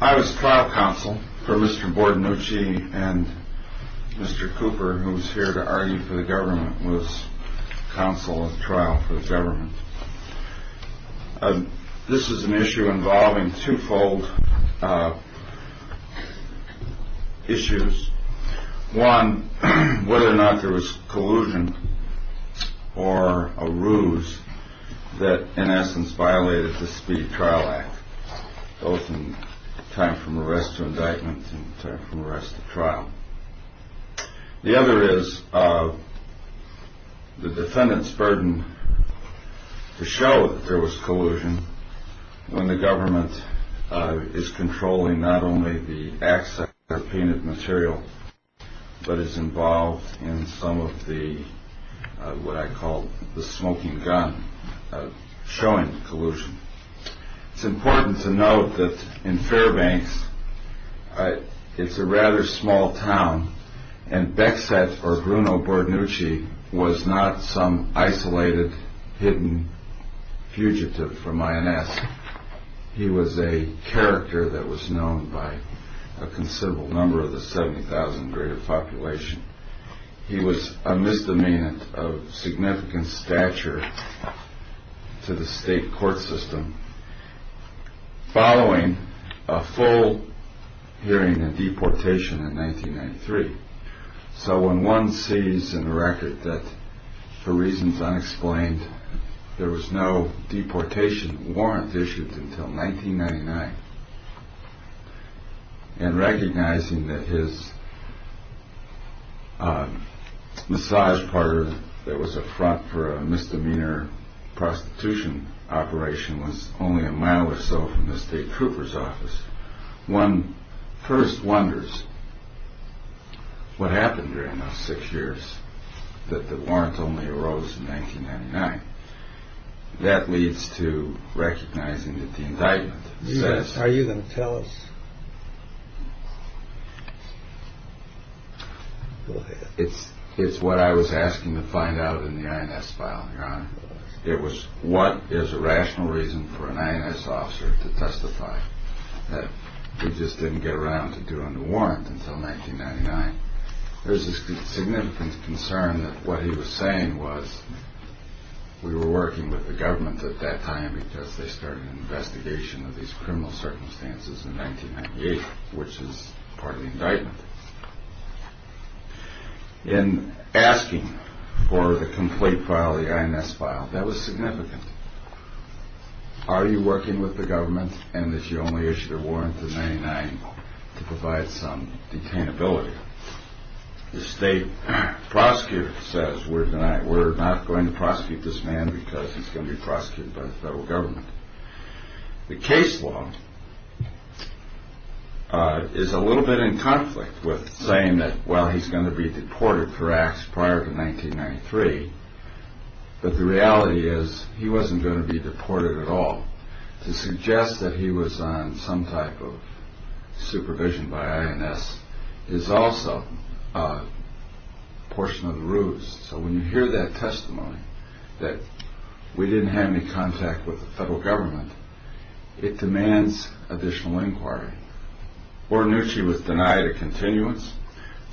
I was trial counsel for Mr. Bordonici and Mr. Cooper, who was here to argue for the government, was counsel at trial for the government. This is an issue involving twofold issues. One, whether or not there was collusion or a ruse that, in essence, violated the Speed Trial Act, both in time from arrest to indictment and time from arrest to trial. The other is the defendant's burden to show that there was collusion when the government is controlling not only the access of painted material, but is involved in some of the, what I call the smoking gun, showing collusion. It's important to note that in Fairbanks, it's a rather small town, and Beckset, or Bruno Bordonici, was not some isolated, hidden fugitive from INS. He was a character that was known by a considerable number of the 70,000 greater population. He was a misdemeanor of significant stature to the state court system following a full hearing and deportation in 1993. So when one sees in the record that, for reasons unexplained, there was no deportation warrant issued until 1999, and recognizing that his massage parlor that was a front for a misdemeanor prostitution operation was only a mile or so from the state trooper's office, one first wonders what happened during those six years that the warrant only arose in 1999. That leads to recognizing that the indictment says, are you going to tell us? It's it's what I was asking to find out in the INS file. It was what is a rational reason for an INS officer to testify that he just didn't get around to doing the warrant until 1999. There's a significant concern that what he was saying was we were working with the government at that time because they started an investigation of these criminal circumstances in 1998, which is part of the indictment. In asking for the complete file, the INS file, that was significant. Are you working with the government and that you only issued a warrant in 1999 to provide some detainability? The state prosecutor says we're not going to prosecute this man because he's going to be prosecuted by the federal government. The case law is a little bit in conflict with saying that, well, he's going to be deported for acts prior to 1993. But the reality is he wasn't going to be deported at all to suggest that he was on some type of supervision by INS is also a portion of the ruse. So when you hear that testimony that we didn't have any contact with the federal government, it demands additional inquiry or knew she was denied a continuance.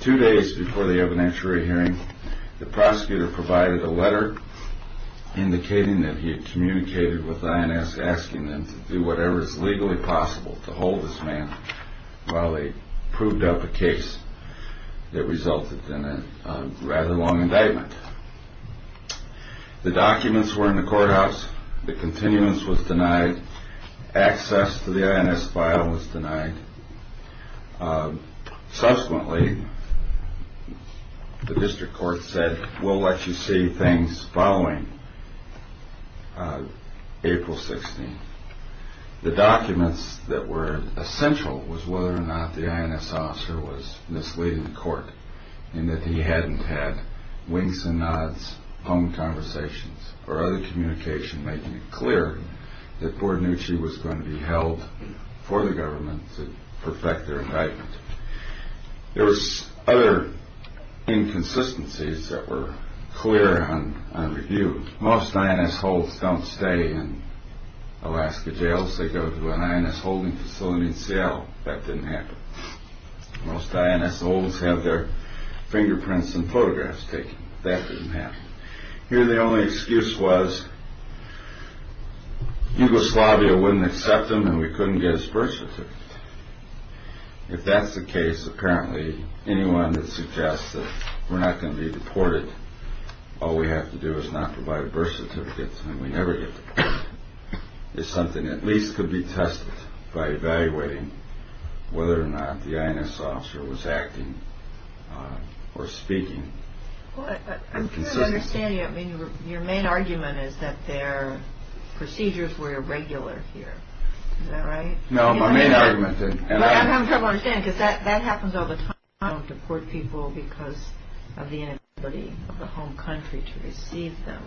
Two days before the evidentiary hearing, the prosecutor provided a letter indicating that he had communicated with INS asking them to do whatever is legally possible to hold this man. Well, they proved up a case that resulted in a rather long indictment. The documents were in the courthouse. The continuance was denied. Access to the INS file was denied. Subsequently, the district court said, we'll let you see things following April 16. The documents that were essential was whether or not the INS officer was misleading the court and that he hadn't had winks and nods, phone conversations or other communication, making it clear that poor knew she was going to be held for the government to perfect their indictment. There was other inconsistencies that were clear on review. Most INS holds don't stay in Alaska jails. They go to an INS holding facility in Seattle. That didn't happen. Most INS holds have their fingerprints and photographs taken. That didn't happen here. The only excuse was Yugoslavia wouldn't accept them. If that's the case, apparently anyone that suggests that we're not going to be deported, all we have to do is not provide a birth certificate and we never get deported. It's something at least could be tested by evaluating whether or not the INS officer was acting or speaking. I'm trying to understand you. Your main argument is that their procedures were irregular here. Is that right? No, my main argument is... I'm having trouble understanding because that happens all the time. You don't deport people because of the inability of the home country to receive them.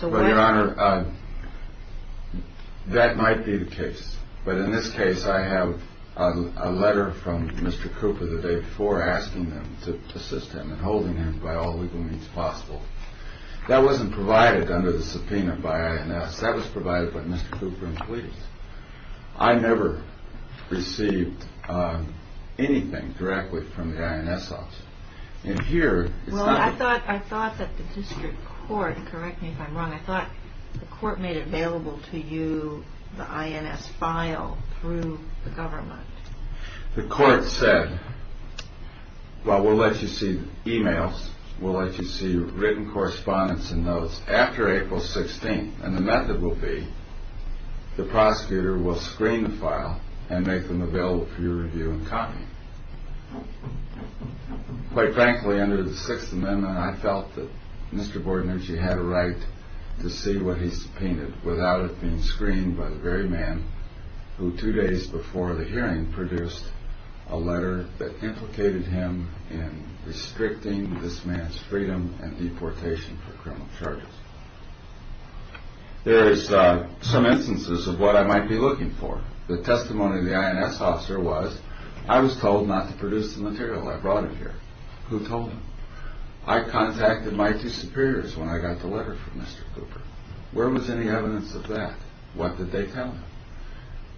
Your Honor, that might be the case. But in this case, I have a letter from Mr. Cooper the day before asking them to assist him and holding him by all legal means possible. That wasn't provided under the subpoena by INS. That was provided by Mr. Cooper and police. I never received anything directly from the INS officer. Well, I thought that the district court, correct me if I'm wrong, I thought the court made available to you the INS file through the government. The court said, well, we'll let you see emails, we'll let you see written correspondence and notes after April 16th and the method will be the prosecutor will screen the file and make them available for you to review and comment. Quite frankly, under the Sixth Amendment, I felt that Mr. Bordener, he had a right to see what he subpoenaed without it being screened by the very man who two days before the hearing produced a letter that implicated him in restricting this man's freedom and deportation for criminal charges. There is some instances of what I might be looking for. The testimony of the INS officer was I was told not to produce the material. I brought it here. Who told him? I contacted my two superiors when I got the letter from Mr. Cooper. Where was any evidence of that? What did they tell him?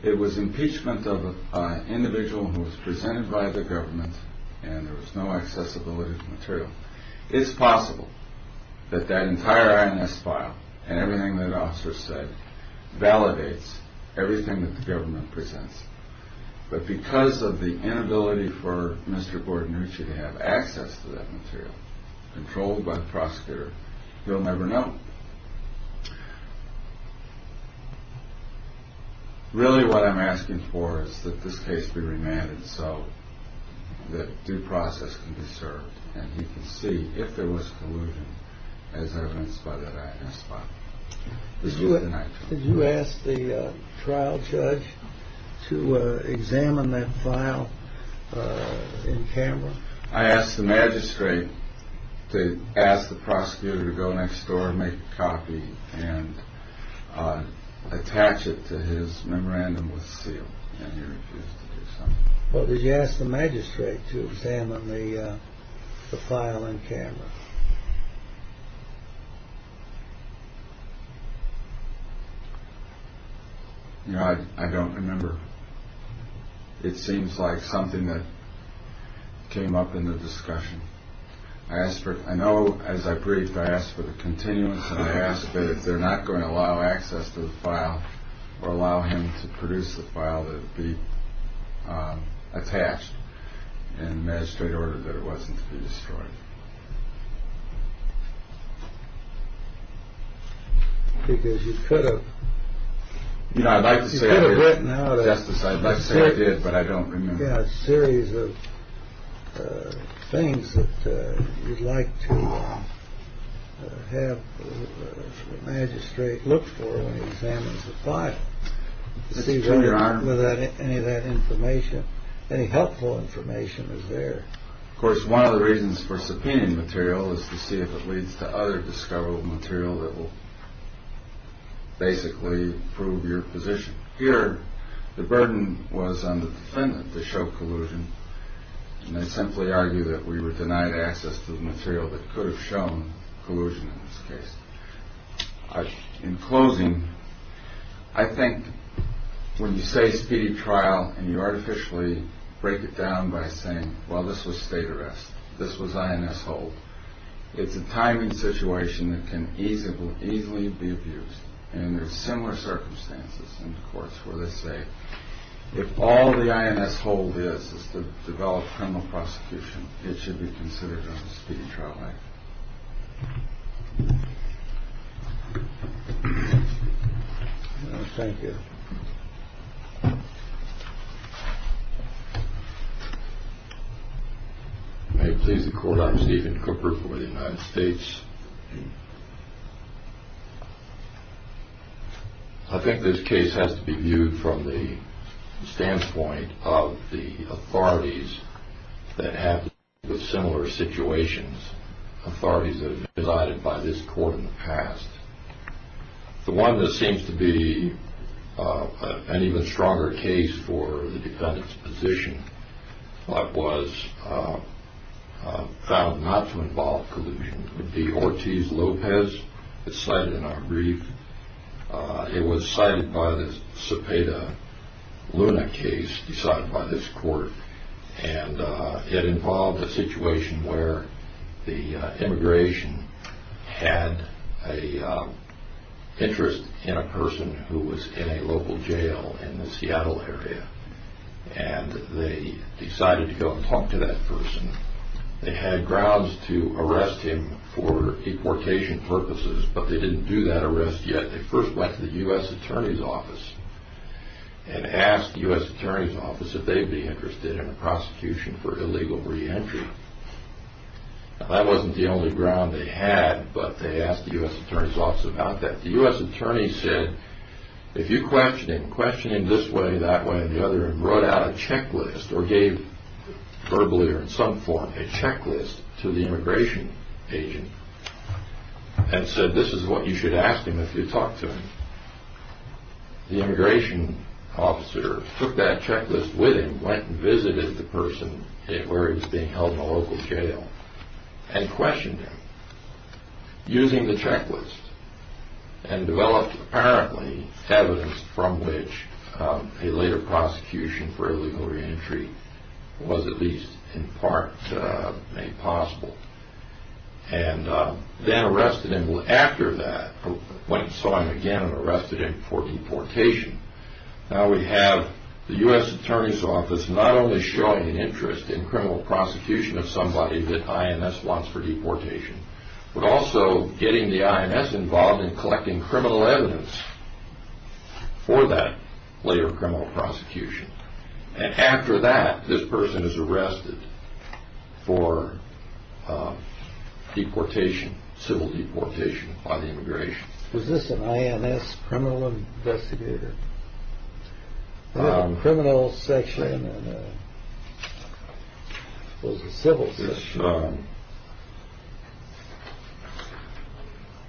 It was impeachment of an individual who was presented by the government and there was no accessibility to the material. It's possible that that entire INS file and everything that officer said validates everything that the government presents. But because of the inability for Mr. Bordener to have access to that material, controlled by the prosecutor, you'll never know. Really what I'm asking for is that this case be remanded so that due process can be served and he can see if there was collusion as evidenced by that INS file. Did you ask the trial judge to examine that file in camera? I asked the magistrate to ask the prosecutor to go next door and make a copy and attach it to his memorandum with a seal and he refused to do so. Did you ask the magistrate to examine the file in camera? No, I don't remember. It seems like something that came up in the discussion. I asked for it. I know as I briefed, I asked for the continuance. But if they're not going to allow access to the file or allow him to produce the file, attached and magistrate order that it wasn't destroyed. Because you could have. You know, I'd like to say that I did, but I don't remember. A series of things that you'd like to have the magistrate look for. But without any of that information, any helpful information is there. Of course, one of the reasons for subpoena material is to see if it leads to other discoverable material that will basically prove your position here. The burden was on the defendant to show collusion. And I simply argue that we were denied access to the material that could have shown collusion in this case. In closing, I think when you say speedy trial and you artificially break it down by saying, well, this was state arrest. This was INS hold. It's a timing situation that can easily, easily be abused. And there's similar circumstances in the courts where they say if all the INS hold is to develop criminal prosecution, it should be considered a speedy trial. Thank you. May it please the court. I'm Stephen Cooper for the United States. I think this case has to be viewed from the standpoint of the authorities that have similar situations, authorities that have been decided by this court in the past. The one that seems to be an even stronger case for the defendant's position was found not to involve collusion. It would be Ortiz Lopez. It's cited in our brief. It was cited by the Cepeda Luna case decided by this court. And it involved a situation where the immigration had an interest in a person who was in a local jail in the Seattle area. And they decided to go and talk to that person. They had grounds to arrest him for deportation purposes, but they didn't do that arrest yet. They first went to the U.S. Attorney's Office and asked the U.S. Attorney's Office if they'd be interested in a prosecution for illegal reentry. Now, that wasn't the only ground they had, but they asked the U.S. Attorney's Office about that. The U.S. Attorney said, if you question him, question him this way, that way, and the other, and brought out a checklist or gave verbally or in some form a checklist to the immigration agent and said, this is what you should ask him if you talk to him. The immigration officer took that checklist with him, went and visited the person where he was being held in a local jail, and questioned him using the checklist and developed apparently evidence from which a later prosecution for illegal reentry was at least in part made possible. And then arrested him after that, went and saw him again and arrested him for deportation. Now we have the U.S. Attorney's Office not only showing an interest in criminal prosecution of somebody that I.M.S. wants for deportation, but also getting the I.M.S. involved in collecting criminal evidence for that later criminal prosecution. And after that, this person is arrested for deportation, civil deportation by the immigration. Was this an I.M.S. criminal investigator? Criminal section and was it civil section?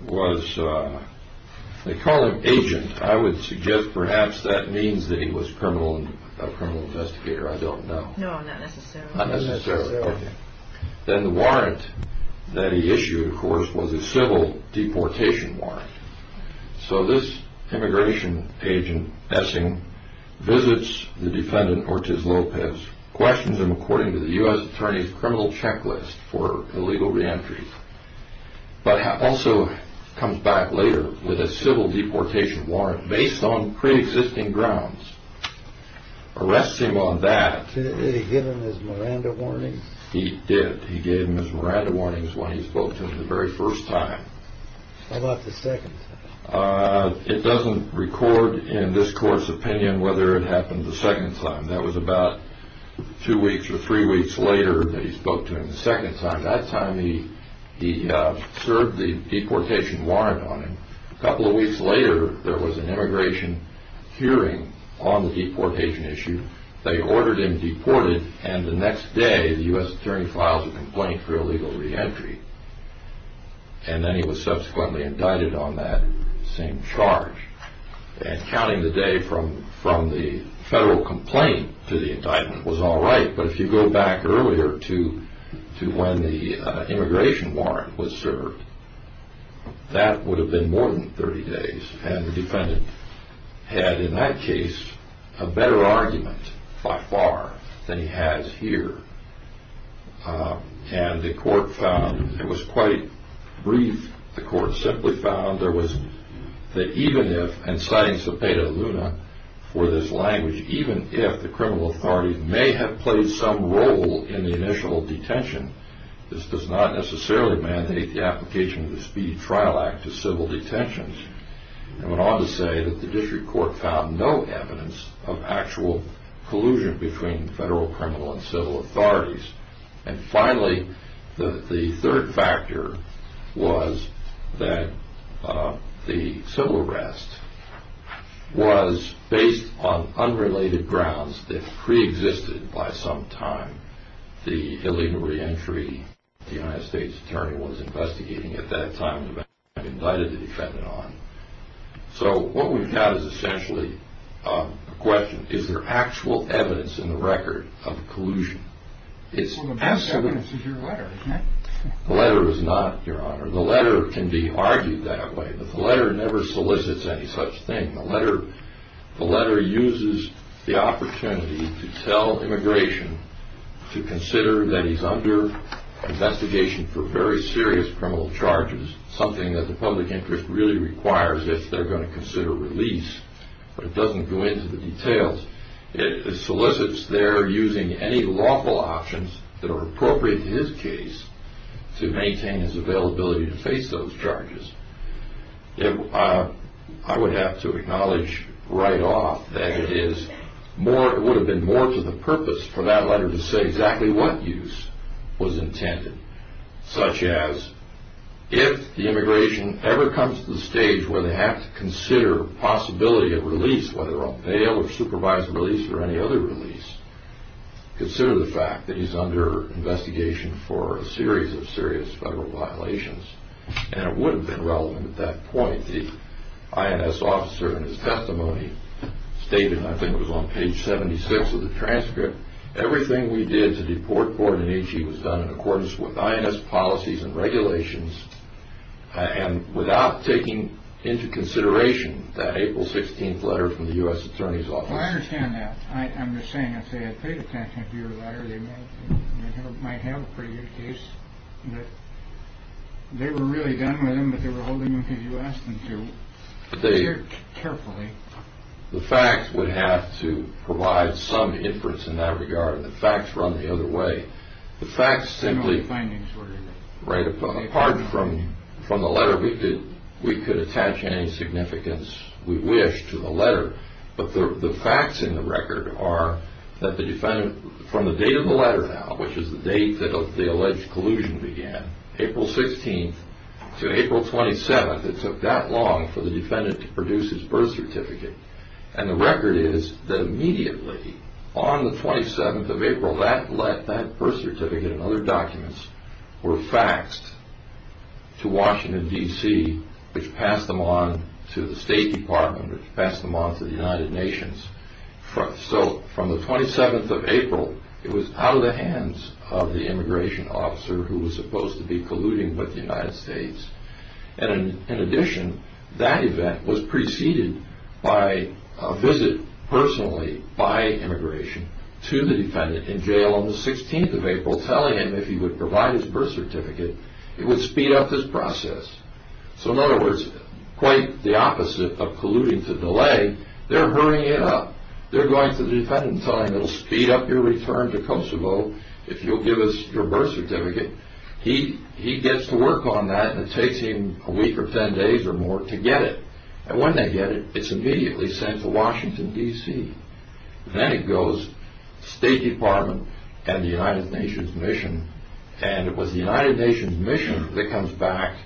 This was, they call him agent. I would suggest perhaps that means that he was a criminal investigator. I don't know. No, not necessarily. Not necessarily. Then the warrant that he issued, of course, was a civil deportation warrant. So this immigration agent, Essing, visits the defendant, Ortiz Lopez, questions him according to the U.S. Attorney's criminal checklist for illegal reentry, but also comes back later with a civil deportation warrant based on pre-existing grounds, arrests him on that. Did he give him his Miranda warnings? He did. He gave him his Miranda warnings when he spoke to him the very first time. How about the second time? It doesn't record in this court's opinion whether it happened the second time. That was about two weeks or three weeks later that he spoke to him the second time. That time he served the deportation warrant on him. A couple of weeks later, there was an immigration hearing on the deportation issue. They ordered him deported, and the next day the U.S. Attorney files a complaint for illegal reentry, and then he was subsequently indicted on that same charge. And counting the day from the federal complaint to the indictment was all right, but if you go back earlier to when the immigration warrant was served, that would have been more than 30 days, and the defendant had, in that case, a better argument by far than he has here. And the court found it was quite brief. The court simply found that even if, and citing Cepeda Luna for this language, even if the criminal authorities may have played some role in the initial detention, this does not necessarily mandate the application of the Speed Trial Act to civil detentions. I went on to say that the district court found no evidence of actual collusion between federal, criminal, and civil authorities. And finally, the third factor was that the civil arrest was based on unrelated grounds that preexisted by some time. The illegal reentry, the U.S. Attorney was investigating at that time, and the defendant was indicted on. So what we've got is essentially a question, is there actual evidence in the record of collusion? Well, the best evidence is your letter, isn't it? The letter is not, Your Honor. The letter can be argued that way, but the letter never solicits any such thing. The letter uses the opportunity to tell immigration to consider that he's under investigation for very serious criminal charges, something that the public interest really requires if they're going to consider release, but it doesn't go into the details. It solicits their using any lawful options that are appropriate in his case to maintain his availability to face those charges. I would have to acknowledge right off that it would have been more to the purpose for that letter to say exactly what use was intended, such as if the immigration ever comes to the stage where they have to consider possibility of release, whether on bail or supervised release or any other release, consider the fact that he's under investigation for a series of serious federal violations, and it would have been relevant at that point. The INS officer in his testimony stated, and I think it was on page 76 of the transcript, everything we did to deport Borden and Ichi was done in accordance with INS policies and regulations and without taking into consideration that April 16th letter from the U.S. Attorney's Office. Well, I understand that. I'm just saying, I'd say I paid attention to your letter. They might have a pretty good case. They were really done with him, but they were holding him because you asked them to carefully. The facts would have to provide some inference in that regard. The facts run the other way. The facts simply findings were right apart from the letter. We could attach any significance we wish to the letter, but the facts in the record are that the defendant, from the date of the letter now, which is the date that the alleged collusion began, April 16th to April 27th, it took that long for the defendant to produce his birth certificate, and the record is that immediately on the 27th of April, that birth certificate and other documents were faxed to Washington, D.C., which passed them on to the State Department, which passed them on to the United Nations. So from the 27th of April, it was out of the hands of the immigration officer who was supposed to be colluding with the United States. And in addition, that event was preceded by a visit personally by immigration to the defendant in jail on the 16th of April, telling him if he would provide his birth certificate, it would speed up his process. So in other words, quite the opposite of colluding to delay, they're hurrying it up. They're going to the defendant and telling him it will speed up your return to Kosovo if you'll give us your birth certificate. He gets to work on that, and it takes him a week or ten days or more to get it. And when they get it, it's immediately sent to Washington, D.C. Then it goes to the State Department and the United Nations mission, and it was the United Nations mission that comes back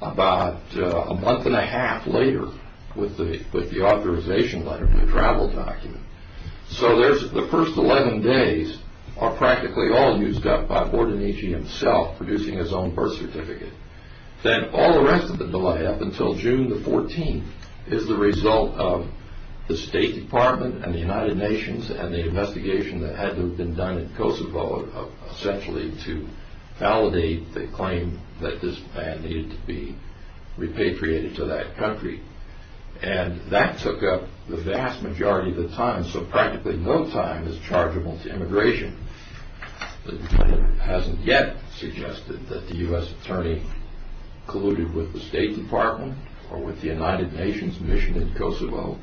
about a month and a half later with the authorization letter and the travel document. So the first 11 days are practically all used up by Bordenici himself producing his own birth certificate. Then all the rest of the delay up until June the 14th is the result of the State Department and the United Nations and the investigation that had to have been done in Kosovo essentially to validate the claim that this man needed to be repatriated to that country. And that took up the vast majority of the time, so practically no time is chargeable to immigration. The defendant hasn't yet suggested that the U.S. Attorney colluded with the State Department or with the United Nations mission in Kosovo.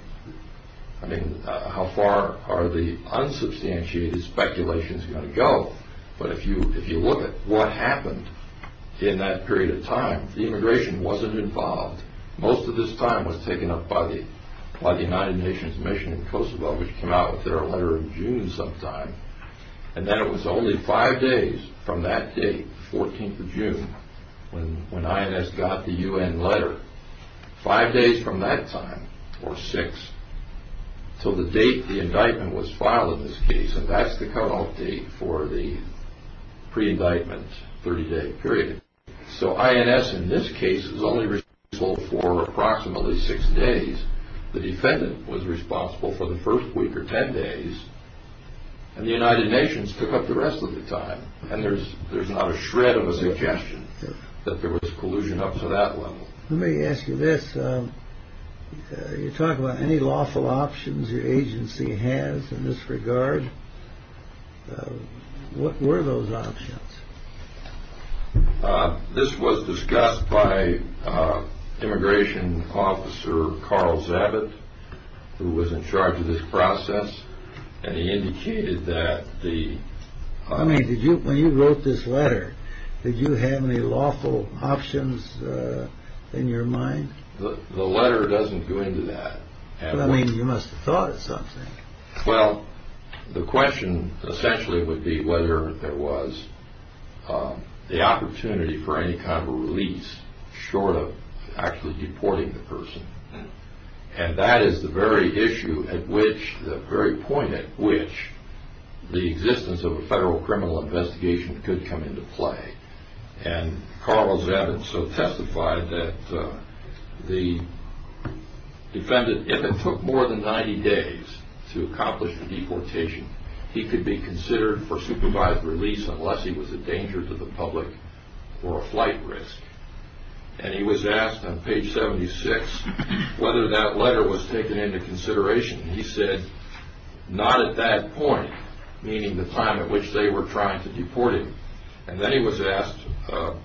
I mean, how far are the unsubstantiated speculations going to go? But if you look at what happened in that period of time, the immigration wasn't involved. Most of this time was taken up by the United Nations mission in Kosovo, which came out with their letter in June sometime. And then it was only five days from that date, the 14th of June, when INS got the U.N. letter. Five days from that time, or six, until the date the indictment was filed in this case. And that's the cutoff date for the pre-indictment, 30-day period. So INS in this case is only responsible for approximately six days. The defendant was responsible for the first week or ten days, and the United Nations took up the rest of the time. And there's not a shred of a suggestion that there was collusion up to that level. Let me ask you this. You talk about any lawful options your agency has in this regard. What were those options? This was discussed by immigration officer Carl Zabit, who was in charge of this process. And he indicated that the... I mean, when you wrote this letter, did you have any lawful options in your mind? The letter doesn't go into that. Well, I mean, you must have thought of something. Well, the question essentially would be whether there was the opportunity for any kind of a release, short of actually deporting the person. And that is the very issue at which, the very point at which, the existence of a federal criminal investigation could come into play. And Carl Zabit so testified that the defendant, if it took more than 90 days to accomplish the deportation, he could be considered for supervised release unless he was a danger to the public or a flight risk. And he was asked on page 76 whether that letter was taken into consideration. He said, not at that point, meaning the time at which they were trying to deport him. And then he was asked, the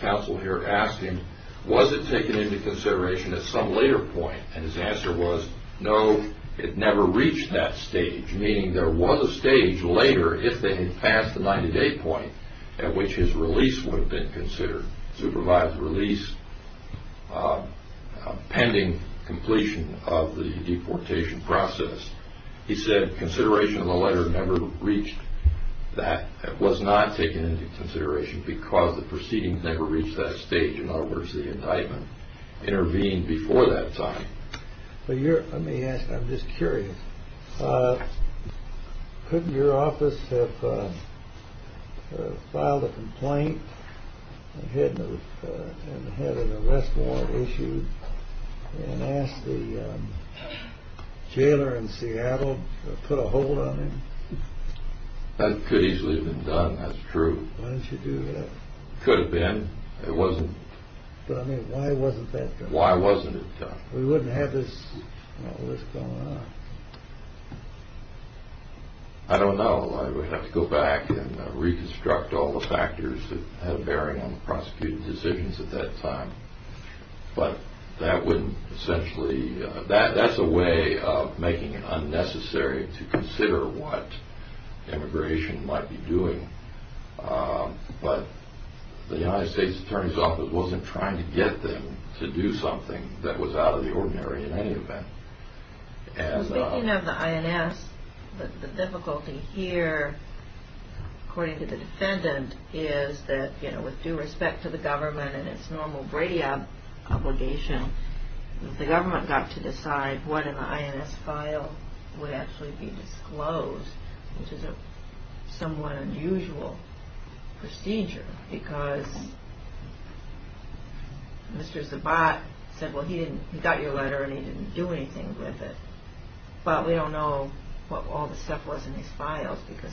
counsel here asked him, was it taken into consideration at some later point? And his answer was, no, it never reached that stage, meaning there was a stage later if they had passed the 90-day point at which his release would have been considered, supervised release pending completion of the deportation process. He said consideration of the letter never reached that, was not taken into consideration because the proceeding never reached that stage. In other words, the indictment intervened before that time. Let me ask, I'm just curious. Couldn't your office have filed a complaint and had an arrest warrant issued and asked the jailer in Seattle to put a hold on him? That could easily have been done, that's true. Why didn't you do that? Could have been. It wasn't. But I mean, why wasn't that done? Why wasn't it done? We wouldn't have this going on. I don't know. I would have to go back and reconstruct all the factors that had a bearing on the prosecuting decisions at that time. But that would essentially, that's a way of making it unnecessary to consider what immigration might be doing. But the United States Attorney's Office wasn't trying to get them to do something that was out of the ordinary in any event. Speaking of the INS, the difficulty here, according to the defendant, is that with due respect to the government and its normal Brady obligation, the government got to decide what in the INS file would actually be disclosed, which is a somewhat unusual procedure because Mr. Zabot said, well, he got your letter and he didn't do anything with it. But we don't know what all the stuff was in his files because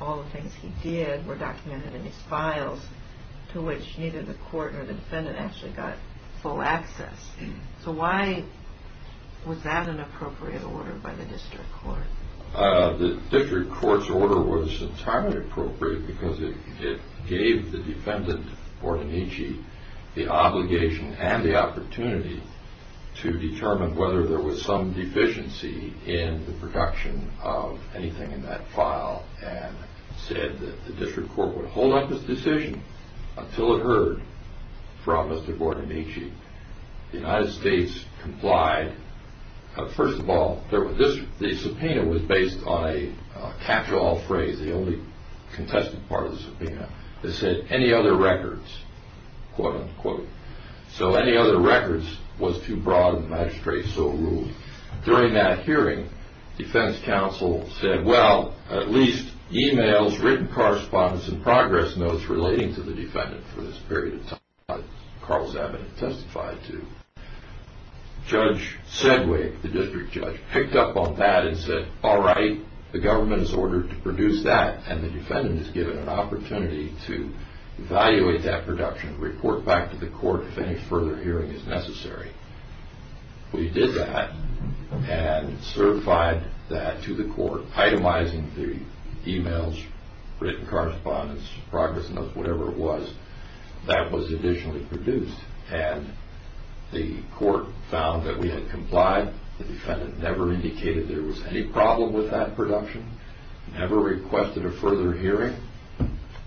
all the things he did were documented in his files, to which neither the court nor the defendant actually got full access. So why was that an appropriate order by the district court? The district court's order was entirely appropriate because it gave the defendant, Bordenici, the obligation and the opportunity to determine whether there was some deficiency in the production of anything in that file and said that the district court would hold up this decision until it heard from Mr. Bordenici. The United States complied. First of all, the subpoena was based on a catch-all phrase, the only contested part of the subpoena. It said, any other records, quote, unquote. So any other records was too broad and the magistrate so ruled. During that hearing, defense counsel said, well, at least emails, written correspondence and progress notes relating to the defendant for this period of time that Carl Zabot had testified to. Judge Sedgwick, the district judge, picked up on that and said, all right, the government has ordered to produce that and the defendant is given an opportunity to evaluate that production and report back to the court if any further hearing is necessary. We did that and certified that to the court, itemizing the emails, written correspondence, progress notes, whatever it was, that was additionally produced and the court found that we had complied. The defendant never indicated there was any problem with that production, never requested a further hearing,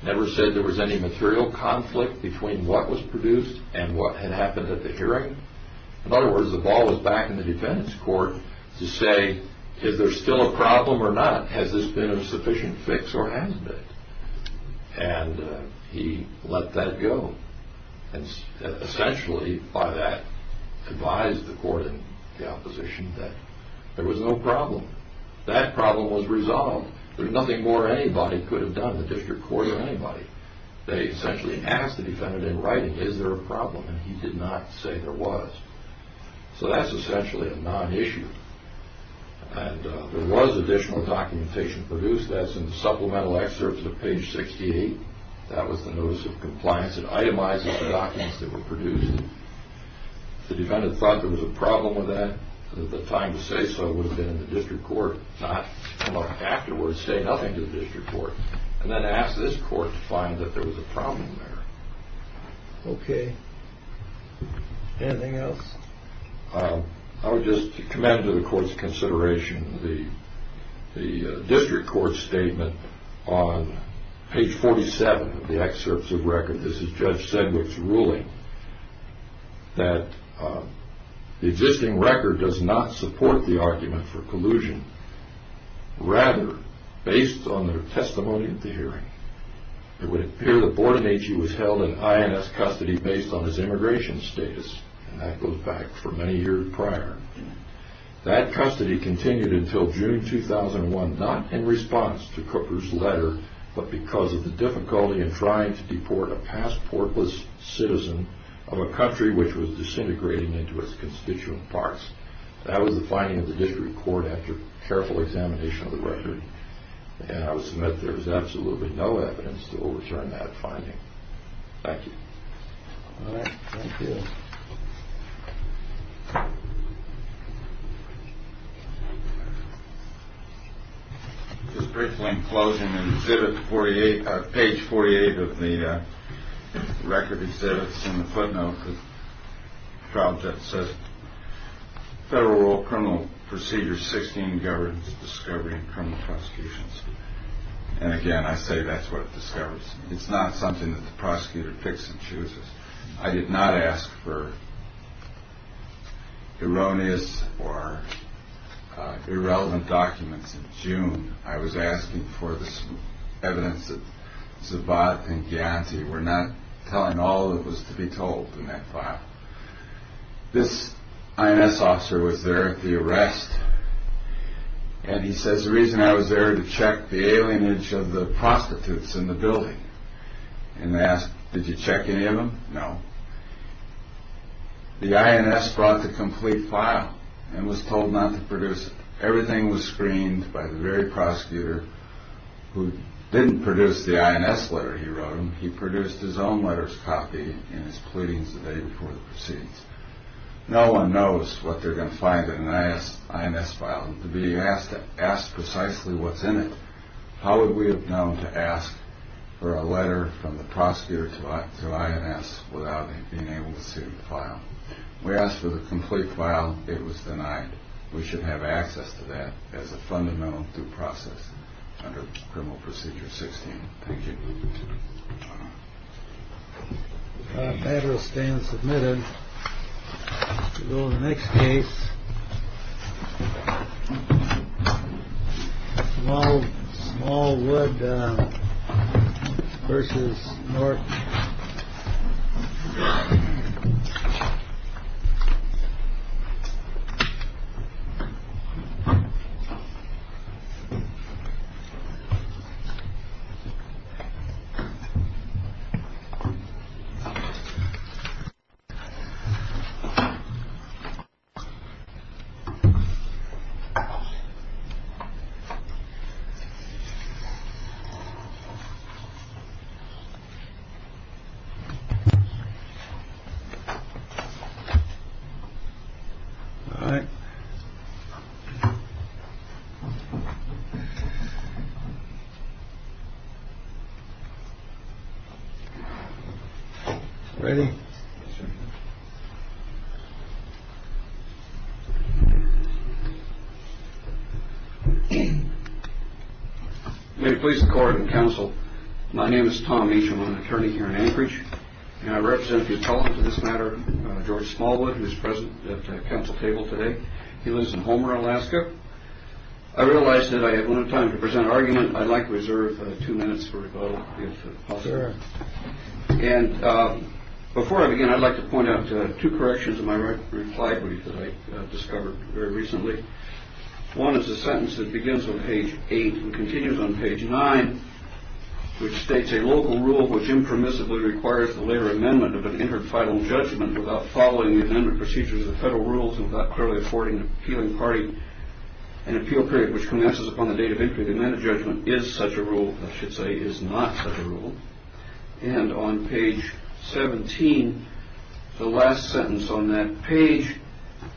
and what had happened at the hearing. In other words, the ball was back in the defendant's court to say, is there still a problem or not? Has this been a sufficient fix or hasn't it? And he let that go. Essentially, by that, advised the court and the opposition that there was no problem. That problem was resolved. There was nothing more anybody could have done, the district court or anybody. They essentially asked the defendant in writing, is there a problem? And he did not say there was. So that's essentially a non-issue. And there was additional documentation produced. That's in the supplemental excerpts of page 68. That was the notice of compliance. It itemizes the documents that were produced. The defendant thought there was a problem with that, that the time to say so would have been in the district court, not come up afterwards, say nothing to the district court, and then ask this court to find that there was a problem there. Okay. Anything else? I would just commend to the court's consideration the district court's statement on page 47 of the excerpts of record. This is Judge Sedgwick's ruling that the existing record does not support the argument for collusion. Rather, based on their testimony at the hearing, it would appear that Bordenachie was held in INS custody based on his immigration status, and that goes back for many years prior. That custody continued until June 2001, not in response to Cooper's letter, but because of the difficulty in trying to deport a passportless citizen of a country which was disintegrating into its constituent parts. That was the finding of the district court after careful examination of the record, and I would submit there is absolutely no evidence to overturn that finding. Thank you. All right. Thank you. Just briefly, in closing, in exhibit 48, page 48 of the record exhibits, in the footnote the trial judge says, Federal Rule Criminal Procedure 16 governs discovery in criminal prosecutions. And again, I say that's what it discovers. It's not something that the prosecutor picks and chooses. I did not ask for erroneous or irrelevant documents in June. I was asking for the evidence that Zabat and Ghianti were not telling. All of it was to be told in that file. This INS officer was there at the arrest, and he says the reason I was there to check the alienage of the prostitutes in the building and ask, did you check any of them? No. The INS brought the complete file and was told not to produce it. Everything was screened by the very prosecutor who didn't produce the INS letter he wrote him. He produced his own letters copy in his pleadings the day before the proceedings. No one knows what they're going to find in an INS file. To be asked to ask precisely what's in it, how would we have known to ask for a letter from the prosecutor to INS without being able to see the file? We asked for the complete file. It was denied. We should have access to that as a fundamental due process under criminal procedure 16. Thank you. Federal stand submitted to go to the next case. Well, all good. Versus more. All right. Ready. May it please the court and counsel. My name is Tommy. I'm an attorney here in Anchorage. And I represent this matter. George Smallwood, who is present at the council table today. He lives in Homer, Alaska. I realize that I have no time to present argument. I'd like to reserve two minutes for. And before I begin, I'd like to point out two corrections in my reply brief that I discovered very recently. One is a sentence that begins on page eight and continues on page nine, which states a local rule which impermissibly requires the later amendment of an inter-final judgment without following the amendment procedures of the federal rules and without clearly affording the appealing party an appeal period, which commences upon the date of entry. The amendment judgment is such a rule, I should say, is not such a rule. And on page 17, the last sentence on that page,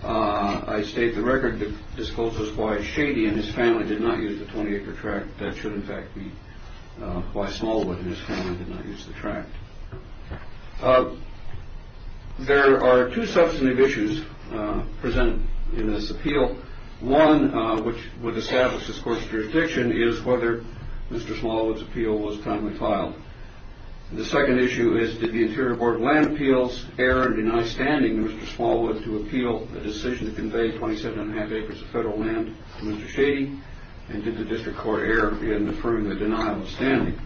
I state the record discloses why Shady and his family did not use the 20 acre tract. That should, in fact, be why Smallwood and his family did not use the tract. There are two substantive issues present in this appeal. One, which would establish this court's jurisdiction, is whether Mr. Smallwood's appeal was timely filed. The second issue is did the Interior Board of Land Appeals err and deny standing Mr. Smallwood to appeal a decision to convey 27 1⁄2 acres of federal land to Mr. Shady, and did the district court err in affirming the denial of standing?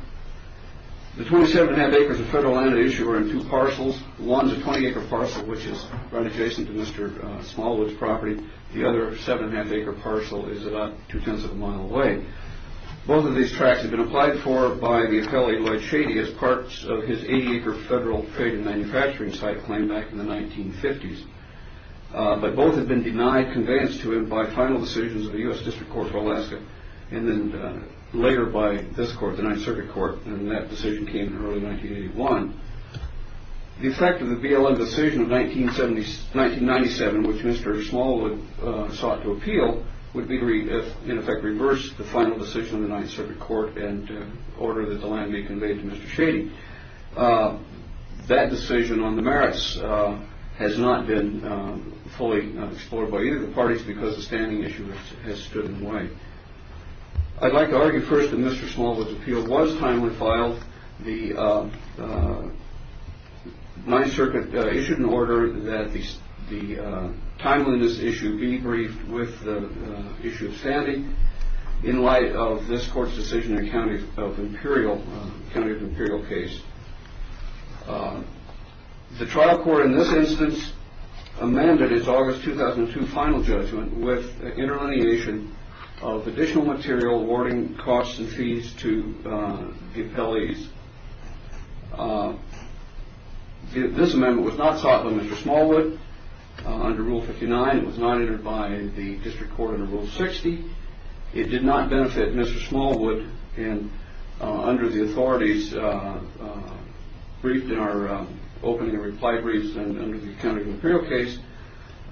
The 27 1⁄2 acres of federal land at issue are in two parcels. One is a 20 acre parcel, which is run adjacent to Mr. Smallwood's property. The other 7 1⁄2 acre parcel is about two-tenths of a mile away. Both of these tracts have been applied for by the appellee Lloyd Shady as parts of his 80 acre federal trade and manufacturing site claim back in the 1950s. But both have been denied conveyance to him by final decisions of the U.S. District Court of Alaska, and then later by this court, the Ninth Circuit Court, and that decision came in early 1981. The effect of the BLM decision of 1997, which Mr. Smallwood sought to appeal, would be to, in effect, reverse the final decision of the Ninth Circuit Court and order that the land be conveyed to Mr. Shady. That decision on the merits has not been fully explored by either of the parties because the standing issue has stood in the way. I'd like to argue first that Mr. Smallwood's appeal was timely filed. The Ninth Circuit issued an order that the timeliness issue be briefed with the issue of standing. In light of this court's decision in a county of imperial case. The trial court in this instance amended its August 2002 final judgment with interleniation of additional material awarding costs and fees to the appellees. This amendment was not sought by Mr. Smallwood under Rule 59. It was not entered by the District Court under Rule 60. It did not benefit Mr. Smallwood. And under the authorities briefed in our opening reply briefs and under the county of imperial case,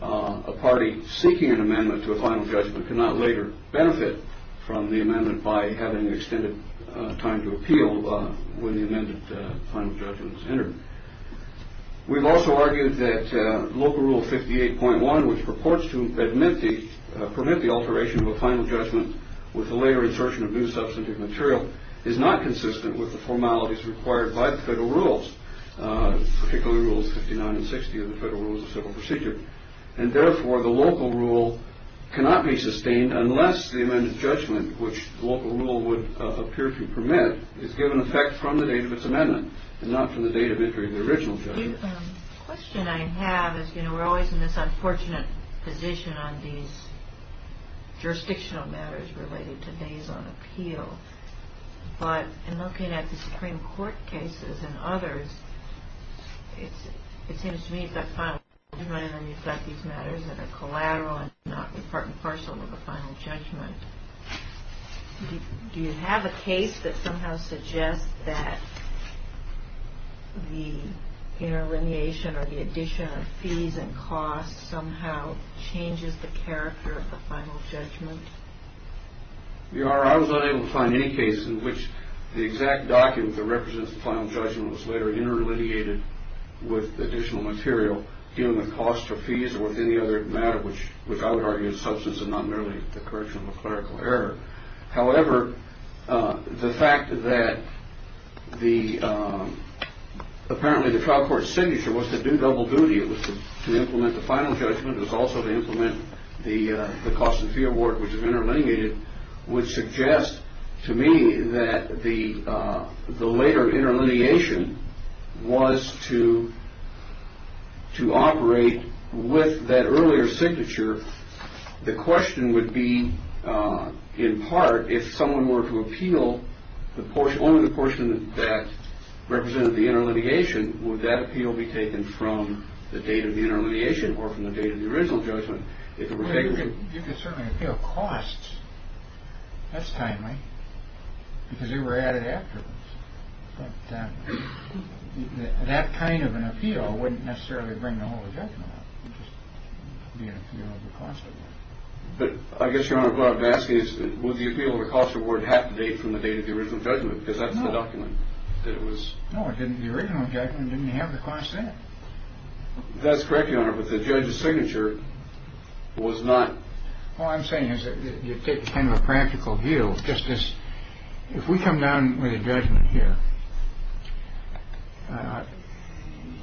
a party seeking an amendment to a final judgment cannot later benefit from the amendment by having extended time to appeal when the amended final judgment is entered. We've also argued that Local Rule 58.1, which purports to permit the alteration of a final judgment with the later insertion of new substantive material, is not consistent with the formalities required by the federal rules, particularly Rules 59 and 60 of the Federal Rules of Civil Procedure. And therefore, the local rule cannot be sustained unless the amended judgment, which the local rule would appear to permit, is given effect from the date of its amendment and not from the date of entry of the original judgment. The question I have is, you know, we're always in this unfortunate position on these jurisdictional matters related to days on appeal. But in looking at the Supreme Court cases and others, it seems to me you've got final judgment and then you've got these matters that are collateral and not part and parcel of a final judgment. Do you have a case that somehow suggests that the interlineation or the addition of fees and costs somehow changes the character of the final judgment? I was unable to find any case in which the exact document that represents the final judgment was later interlineated with additional material dealing with costs or fees or with any other matter, which I would argue is substance and not merely the correction of a clerical error. However, the fact that apparently the trial court's signature was to do double duty, it was to implement the final judgment, it was also to implement the cost and fee award, which is interlineated, would suggest to me that the later interlineation was to operate with that earlier signature. The question would be, in part, if someone were to appeal only the portion that represented the interlineation, would that appeal be taken from the date of the interlineation or from the date of the original judgment? You could certainly appeal costs. That's timely, because they were added afterwards. But that kind of an appeal wouldn't necessarily bring the whole judgment up, it would just be an appeal of the cost award. But I guess, Your Honor, what I'm asking is, would the appeal of the cost award have to date from the date of the original judgment, because that's the document that it was... No, the original judgment didn't have the cost in it. That's correct, Your Honor, but the judge's signature was not... All I'm saying is that you take kind of a practical view, just as if we come down with a judgment here,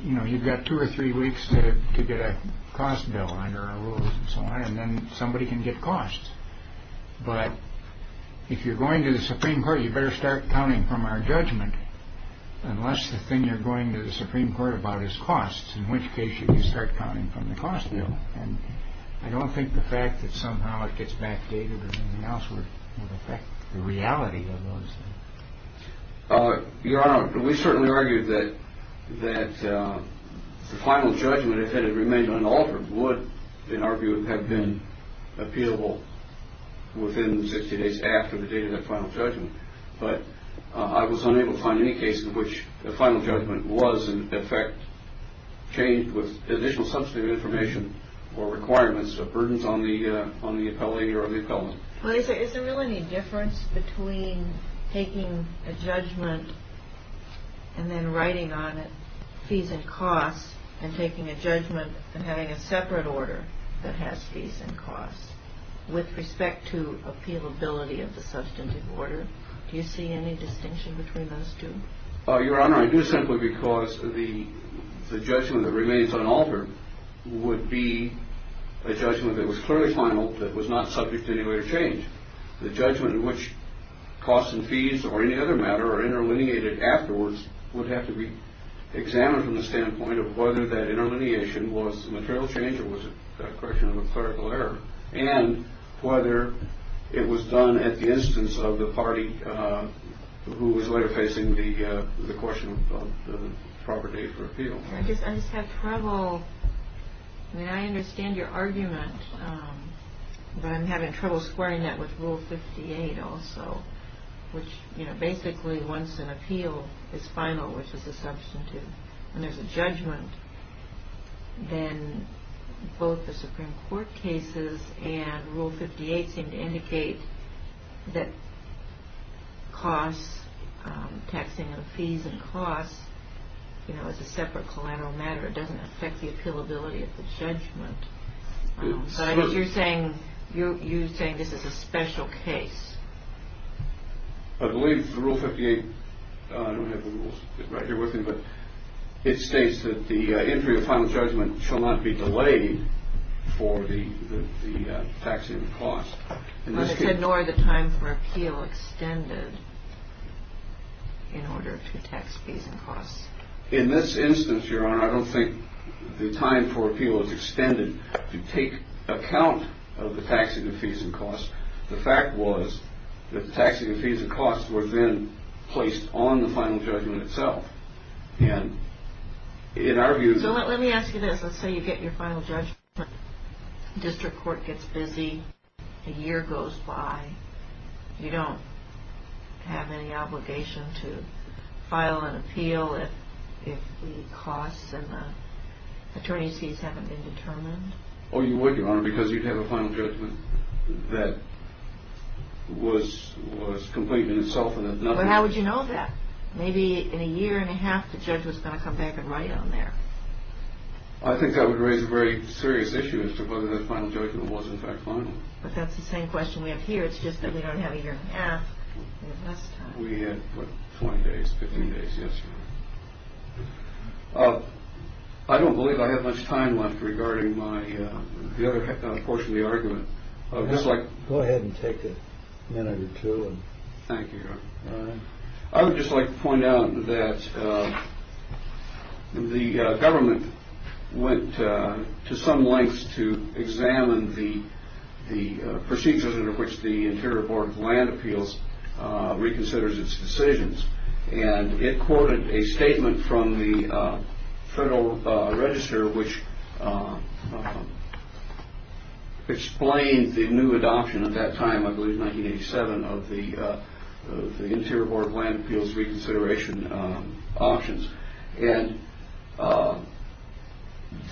you know, you've got two or three weeks to get a cost bill under our rules and so on, and then somebody can get costs. But if you're going to the Supreme Court, you better start counting from our judgment, unless the thing you're going to the Supreme Court about is costs, in which case you can start counting from the cost bill. And I don't think the fact that somehow it gets backdated or anything else would affect the reality of those things. Your Honor, we certainly argue that the final judgment, if it had remained unaltered, would, in our view, have been appealable within 60 days after the date of that final judgment. But I was unable to find any case in which the final judgment was, in effect, changed with additional substantive information or requirements or burdens on the appellee or on the appellant. Is there really any difference between taking a judgment and then writing on it, fees and costs, and taking a judgment and having a separate order that has fees and costs, with respect to appealability of the substantive order? Do you see any distinction between those two? Your Honor, I do simply because the judgment that remains unaltered would be a judgment that was clearly final, that was not subject to any later change. The judgment in which costs and fees or any other matter are interlineated afterwards would have to be examined from the standpoint of whether that interlineation was a material change or was it a correction of a clerical error, and whether it was done at the instance of the party who was later facing the question of the proper date for appeal. I just have trouble... I mean, I understand your argument, but I'm having trouble squaring that with Rule 58 also, which basically, once an appeal is final, which is a substantive, and there's a judgment, then both the Supreme Court cases and Rule 58 seem to indicate that costs, taxing of fees and costs, as a separate collateral matter, doesn't affect the appealability of the judgment. So I guess you're saying this is a special case. I believe Rule 58... I don't have the rules right here with me, but it states that the entry of final judgment shall not be delayed for the taxing of costs. But it said, nor the time for appeal extended in order to tax fees and costs. In this instance, Your Honor, I don't think the time for appeal is extended to take account of the taxing of fees and costs. The fact was that the taxing of fees and costs were then placed on the final judgment itself, and in our view... So let me ask you this. Let's say you get your final judgment. District Court gets busy. A year goes by. You don't have any obligation to file an appeal if the costs and the attorney's fees haven't been determined? Oh, you wouldn't, Your Honor, because you'd have a final judgment that was complete in itself... But how would you know that? Maybe in a year and a half, the judge was going to come back and write it on there. I think that would raise a very serious issue as to whether the final judgment was in fact final. But that's the same question we have here. It's just that we don't have a year and a half. We have less time. We had, what, 20 days, 15 days, yes, Your Honor. I don't believe I have much time left regarding the other portion of the argument. Go ahead and take a minute or two. Thank you, Your Honor. I would just like to point out that the government went to some lengths to examine the procedures under which the Interior Board of Land Appeals reconsiders its decisions, and it quoted a statement from the Federal Register which explained the new adoption at that time, I believe 1987, of the Interior Board of Land Appeals reconsideration options. And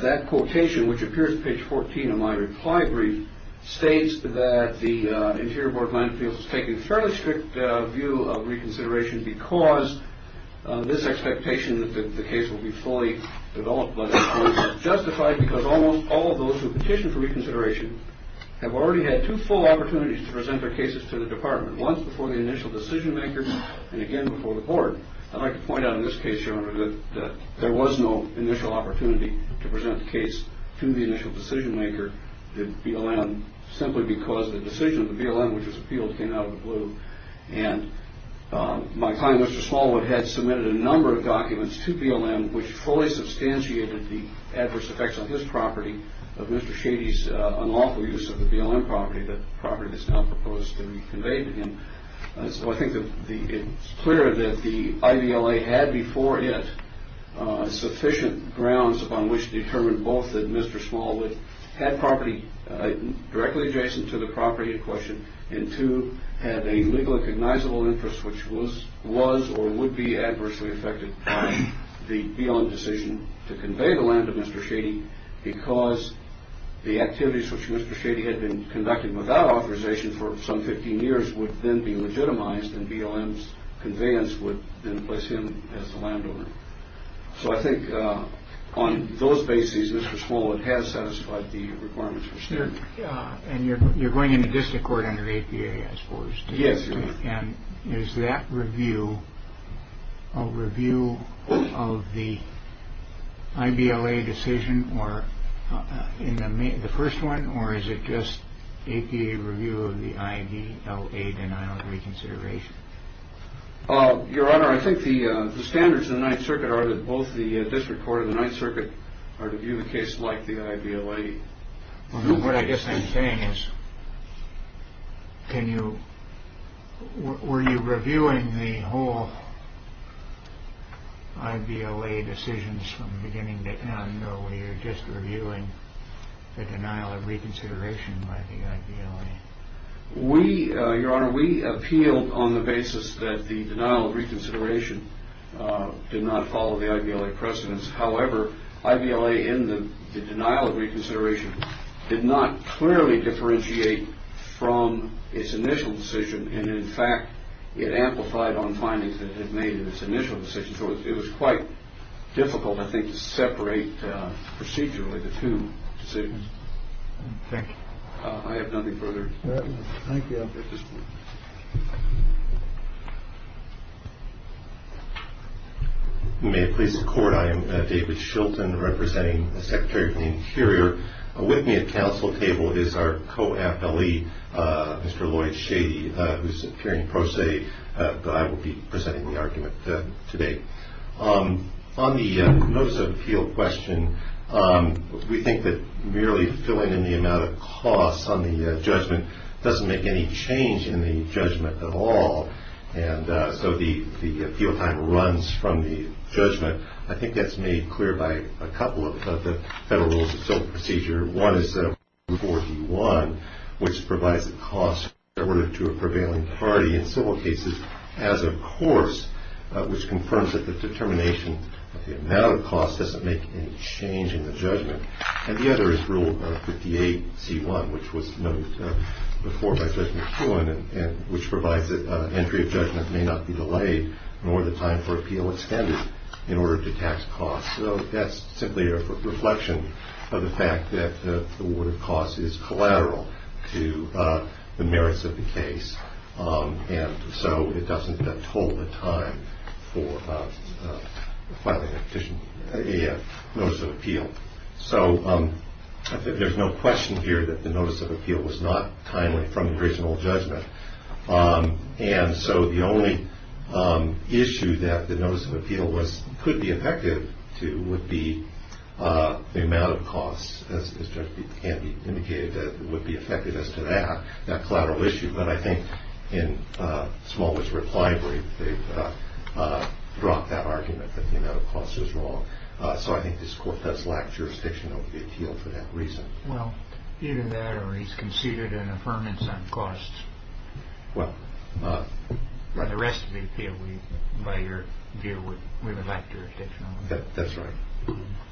that quotation, which appears in page 14 of my reply brief, states that the Interior Board of Land Appeals has taken a fairly strict view of reconsideration because this expectation that the case will be fully developed was justified because almost all of those who petitioned for reconsideration have already had two full opportunities to present their cases to the Department, once before the initial decision-maker and again before the Board. I'd like to point out in this case, Your Honor, that there was no initial opportunity to present the case to the initial decision-maker, the BLM, simply because the decision of the BLM, which was appealed, came out of the blue. And my client, Mr. Smallwood, had submitted a number of documents to BLM which fully substantiated the adverse effects on his property of Mr. Shady's unlawful use of the BLM property, the property that's now proposed to be conveyed to him. So I think it's clear that the IVLA had before it sufficient grounds upon which to determine both that Mr. Smallwood had property directly adjacent to the property in question and two, had a legally cognizable interest which was or would be adversely affected by the BLM decision to convey the land to Mr. Shady because the activities which Mr. Shady had been conducting without authorization for some 15 years would then be legitimized and BLM's conveyance would then place him as the landowner. So I think on those bases, Mr. Smallwood has satisfied the requirements for standing. And you're going into district court under APA as far as... Yes, Your Honor. And is that review a review of the IVLA decision or in the first one or is it just APA review of the IVLA denial of reconsideration? Your Honor, I think the standards in the Ninth Circuit are that both the district court and the Ninth Circuit are to view the case like the IVLA. What I guess I'm saying is, were you reviewing the whole IVLA decisions from beginning to end or were you just reviewing the denial of reconsideration by the IVLA? Your Honor, we appealed on the basis that the denial of reconsideration did not follow the IVLA precedence. However, IVLA in the denial of reconsideration did not clearly differentiate from its initial decision and, in fact, it amplified on findings that it made in its initial decision. So it was quite difficult, I think, to separate procedurally the two decisions. Thank you. I have nothing further at this point. You may please record. I am David Shilton, representing the Secretary for the Interior. With me at council table is our co-appellee, Mr. Lloyd Shady, who's hearing pro se, but I will be presenting the argument today. On the notice of appeal question, we think that merely filling in the amount of costs on the judgment doesn't make any change in the judgment at all, and so the appeal time runs from the judgment. I think that's made clear by a couple of the Federal Rules of Civil Procedure. One is Rule 4.d.1, which provides the cost to a prevailing party in civil cases as a course, which confirms that the determination of the amount of costs doesn't make any change in the judgment. And the other is Rule 58.c.1, which was noted before by Judge McEwen, which provides that entry of judgment may not be delayed nor the time for appeal extended in order to tax costs. So that's simply a reflection of the fact that the order of costs is collateral to the merits of the case, and so it doesn't total the time for filing a notice of appeal. So I think there's no question here that the notice of appeal was not timely from the original judgment. And so the only issue that the notice of appeal could be effective to would be the amount of costs, as Judge Beebe indicated that would be effective as to that, that collateral issue. But I think in Smallwood's reply brief, they dropped that argument that the amount of costs was wrong. So I think this Court does lack jurisdiction over the appeal for that reason. Well, either that or he's conceded an affirmance on costs. Well, right. The rest of the appeal we would lack jurisdiction over. That's right.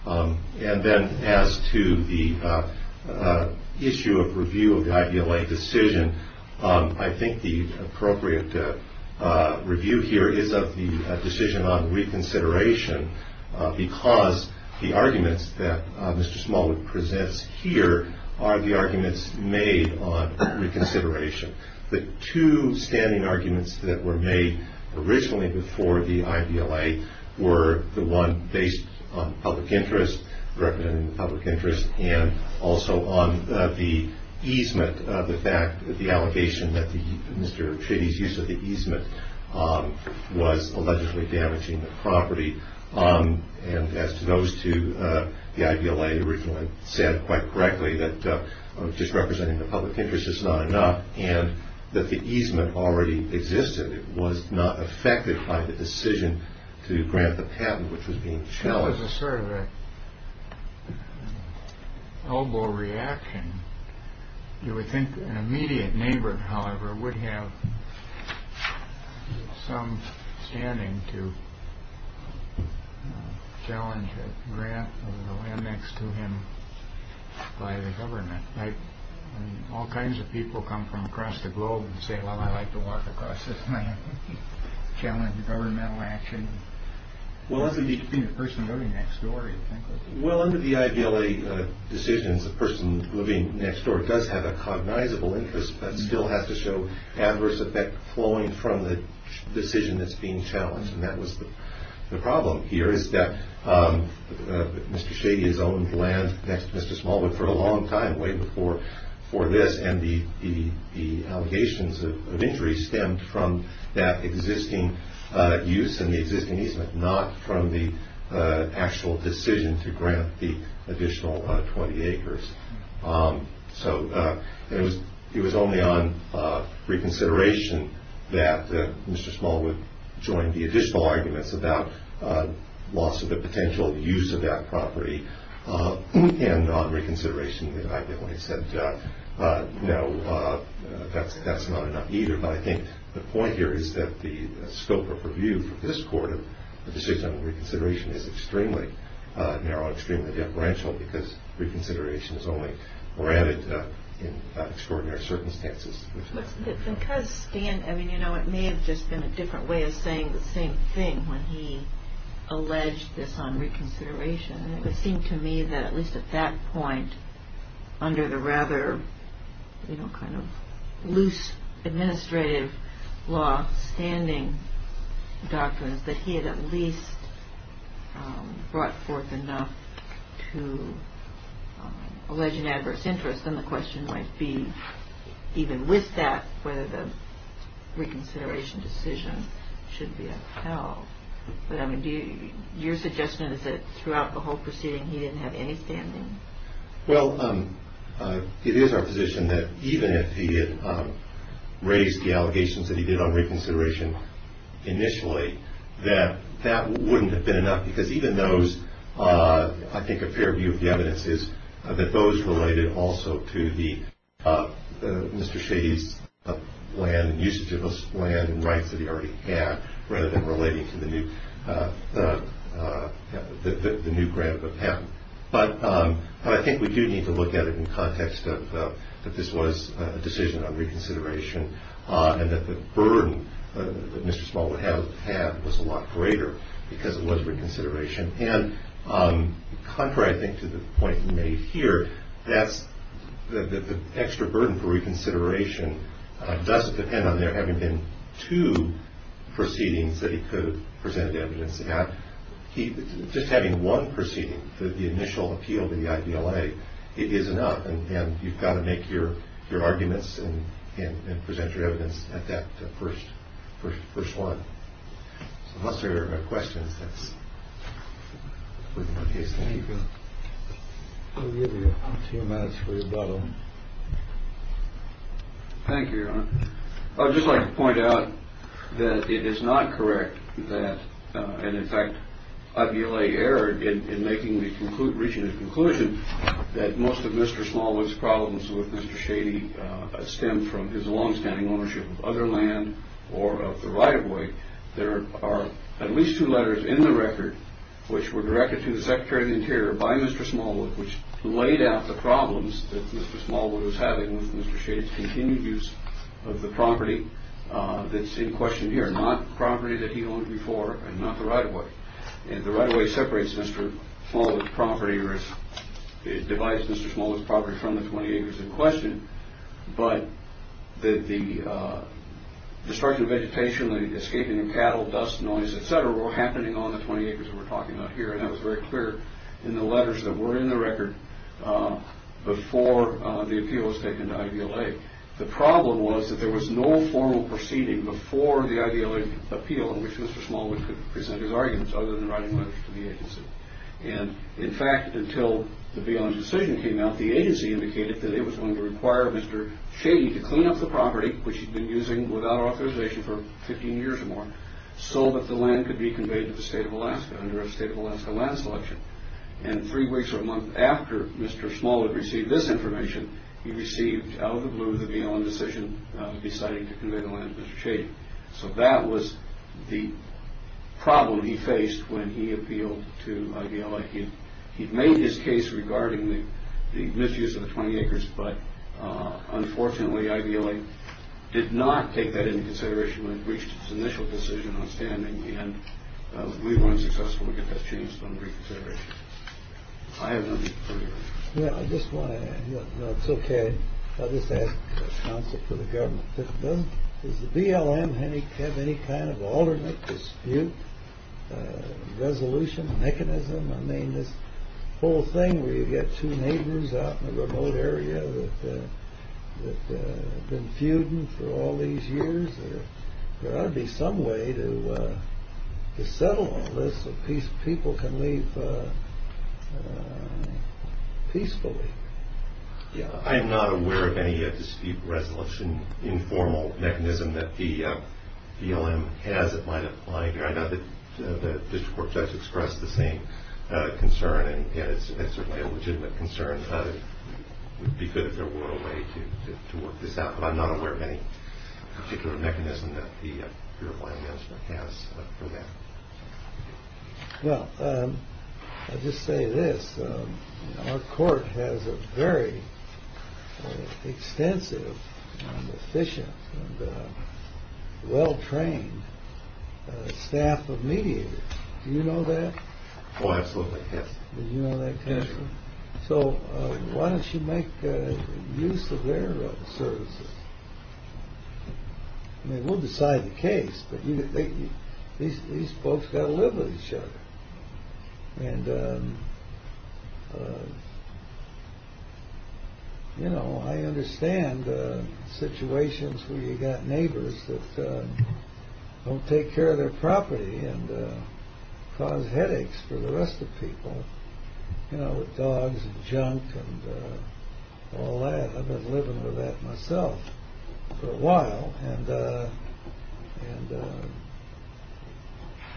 And then as to the issue of review of the IDLA decision, I think the appropriate review here is of the decision on reconsideration because the arguments that Mr. Smallwood presents here are the arguments made on reconsideration. The two standing arguments that were made originally before the IDLA were the one based on public interest, representing the public interest, and also on the easement, the fact that the allegation that Mr. Chitty's use of the easement was allegedly damaging the property. And as to those two, the IDLA originally said quite correctly that just representing the public interest is not enough and that the easement already existed. It was not affected by the decision to grant the patent, which was being challenged. That was sort of an elbow reaction. You would think an immediate neighbor, however, would have some standing to challenge a grant of the land next to him by the government. All kinds of people come from across the globe and say, well, I'd like to walk across this land, challenge governmental action. You should be the person voting that story. Well, under the IDLA decisions, the person living next door does have a cognizable interest but still has to show adverse effect flowing from the decision that's being challenged. And that was the problem here, is that Mr. Chitty has owned land next to Mr. Smallwood for a long time, way before this, and the allegations of injury stemmed from that existing use and the existing easement, not from the actual decision to grant the additional 20 acres. So it was only on reconsideration that Mr. Smallwood joined the additional arguments about loss of the potential use of that property. And on reconsideration, the IDLA said, no, that's not enough either. But I think the point here is that the scope of review for this court and the decision on reconsideration is extremely narrow and extremely deferential because reconsideration is only granted in extraordinary circumstances. Because Stan, I mean, you know, it may have just been a different way of saying the same thing when he alleged this on reconsideration. It would seem to me that at least at that point, under the rather loose administrative law standing doctrines, that he had at least brought forth enough to allege an adverse interest. Then the question might be, even with that, whether the reconsideration decision should be upheld. But, I mean, your suggestion is that throughout the whole proceeding, he didn't have any standing? Well, it is our position that even if he had raised the allegations that he did on reconsideration initially, that that wouldn't have been enough because even those, I think a fair view of the evidence is that those related also to Mr. Shady's land, usage of his land and rights that he already had, rather than relating to the new grant of a patent. But I think we do need to look at it in the context of that this was a decision on reconsideration and that the burden that Mr. Smallwood had was a lot greater because it was reconsideration. And contrary, I think, to the point you made here, that's the extra burden for reconsideration does depend on there having been two proceedings that he could have presented evidence at. Just having one proceeding, the initial appeal to the IDLA, it is enough. And you've got to make your arguments and present your evidence at that first one. Unless there are questions. Thank you. I would just like to point out that it is not correct that, in fact, in making the conclusion that most of Mr. Smallwood's problems with Mr. Shady stem from his longstanding ownership of other land or of the right-of-way. There are at least two letters in the record, which were directed to the Secretary of the Interior by Mr. Smallwood, which laid out the problems that Mr. Smallwood was having with Mr. Shady's continued use of the property that's in question here, not property that he owned before and not the right-of-way. And the right-of-way separates Mr. Smallwood's property or divides Mr. Smallwood's property from the 20 acres in question. But the destruction of vegetation, the escaping of cattle, dust, noise, etc., were happening on the 20 acres that we're talking about here. And that was very clear in the letters that were in the record before the appeal was taken to IDLA. The problem was that there was no formal proceeding before the IDLA appeal in which Mr. Smallwood could present his arguments other than writing letters to the agency. And, in fact, until the Beyond Decision came out, the agency indicated that it was going to require Mr. Shady to clean up the property, which he'd been using without authorization for 15 years or more, so that the land could be conveyed to the State of Alaska under a State of Alaska land selection. And three weeks or a month after Mr. Smallwood received this information, he received out of the blue the Beyond Decision deciding to convey the land to Mr. Shady. So that was the problem he faced when he appealed to IDLA. He'd made his case regarding the misuse of the 20 acres, but, unfortunately, IDLA did not take that into consideration when it reached its initial decision on standing, and we were unsuccessful to get that changed under reconsideration. I have no further questions. Yeah, I just want to add, you know, it's okay. I'll just add a concept for the government. Does the BLM have any kind of alternate dispute resolution mechanism? I mean, this whole thing where you get two neighbors out in a remote area that have been feuding for all these years, there ought to be some way to settle all this so people can leave peacefully. I'm not aware of any dispute resolution informal mechanism that the BLM has that might apply here. I know that the district court judge expressed the same concern, and it's certainly a legitimate concern. It would be good if there were a way to work this out, but I'm not aware of any particular mechanism that the BLM has for that. Well, I'll just say this. Our court has a very extensive and efficient and well-trained staff of mediators. Do you know that? Oh, absolutely, yes. Do you know that, counsel? Sure. So why don't you make use of their services? I mean, we'll decide the case, but these folks got to live with each other. And, you know, I understand situations where you've got neighbors that don't take care of their property and cause headaches for the rest of people, you know, with dogs and junk and all that. I've been living with that myself for a while. And,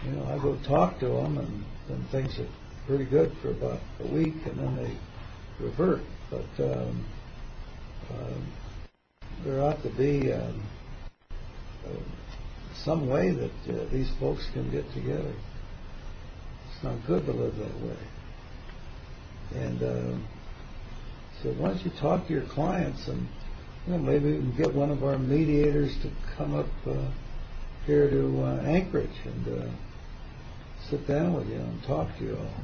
you know, I go talk to them and things are pretty good for about a week, and then they revert. But there ought to be some way that these folks can get together. It's not good to live that way. And so why don't you talk to your clients, and maybe we can get one of our mediators to come up here to Anchorage and sit down with you and talk to you all.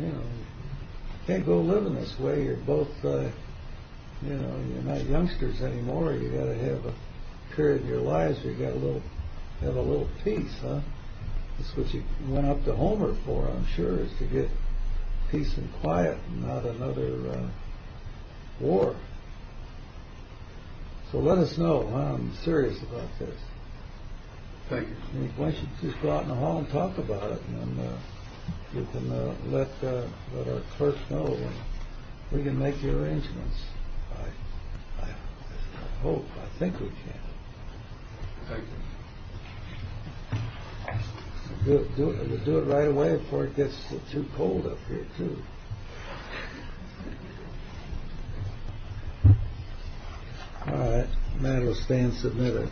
You know, you can't go living this way. You're both, you know, you're not youngsters anymore. You've got to have a period in your lives where you have a little peace. That's what you went up to Homer for, I'm sure, is to get peace and quiet and not another war. So let us know. I'm serious about this. Thank you. Why don't you just go out in the hall and talk about it, and you can let our clerks know, and we can make the arrangements. I hope. I think we can. Thank you. We'll do it right away before it gets too cold up here, too. Thank you. All right. Matter of staying submitted.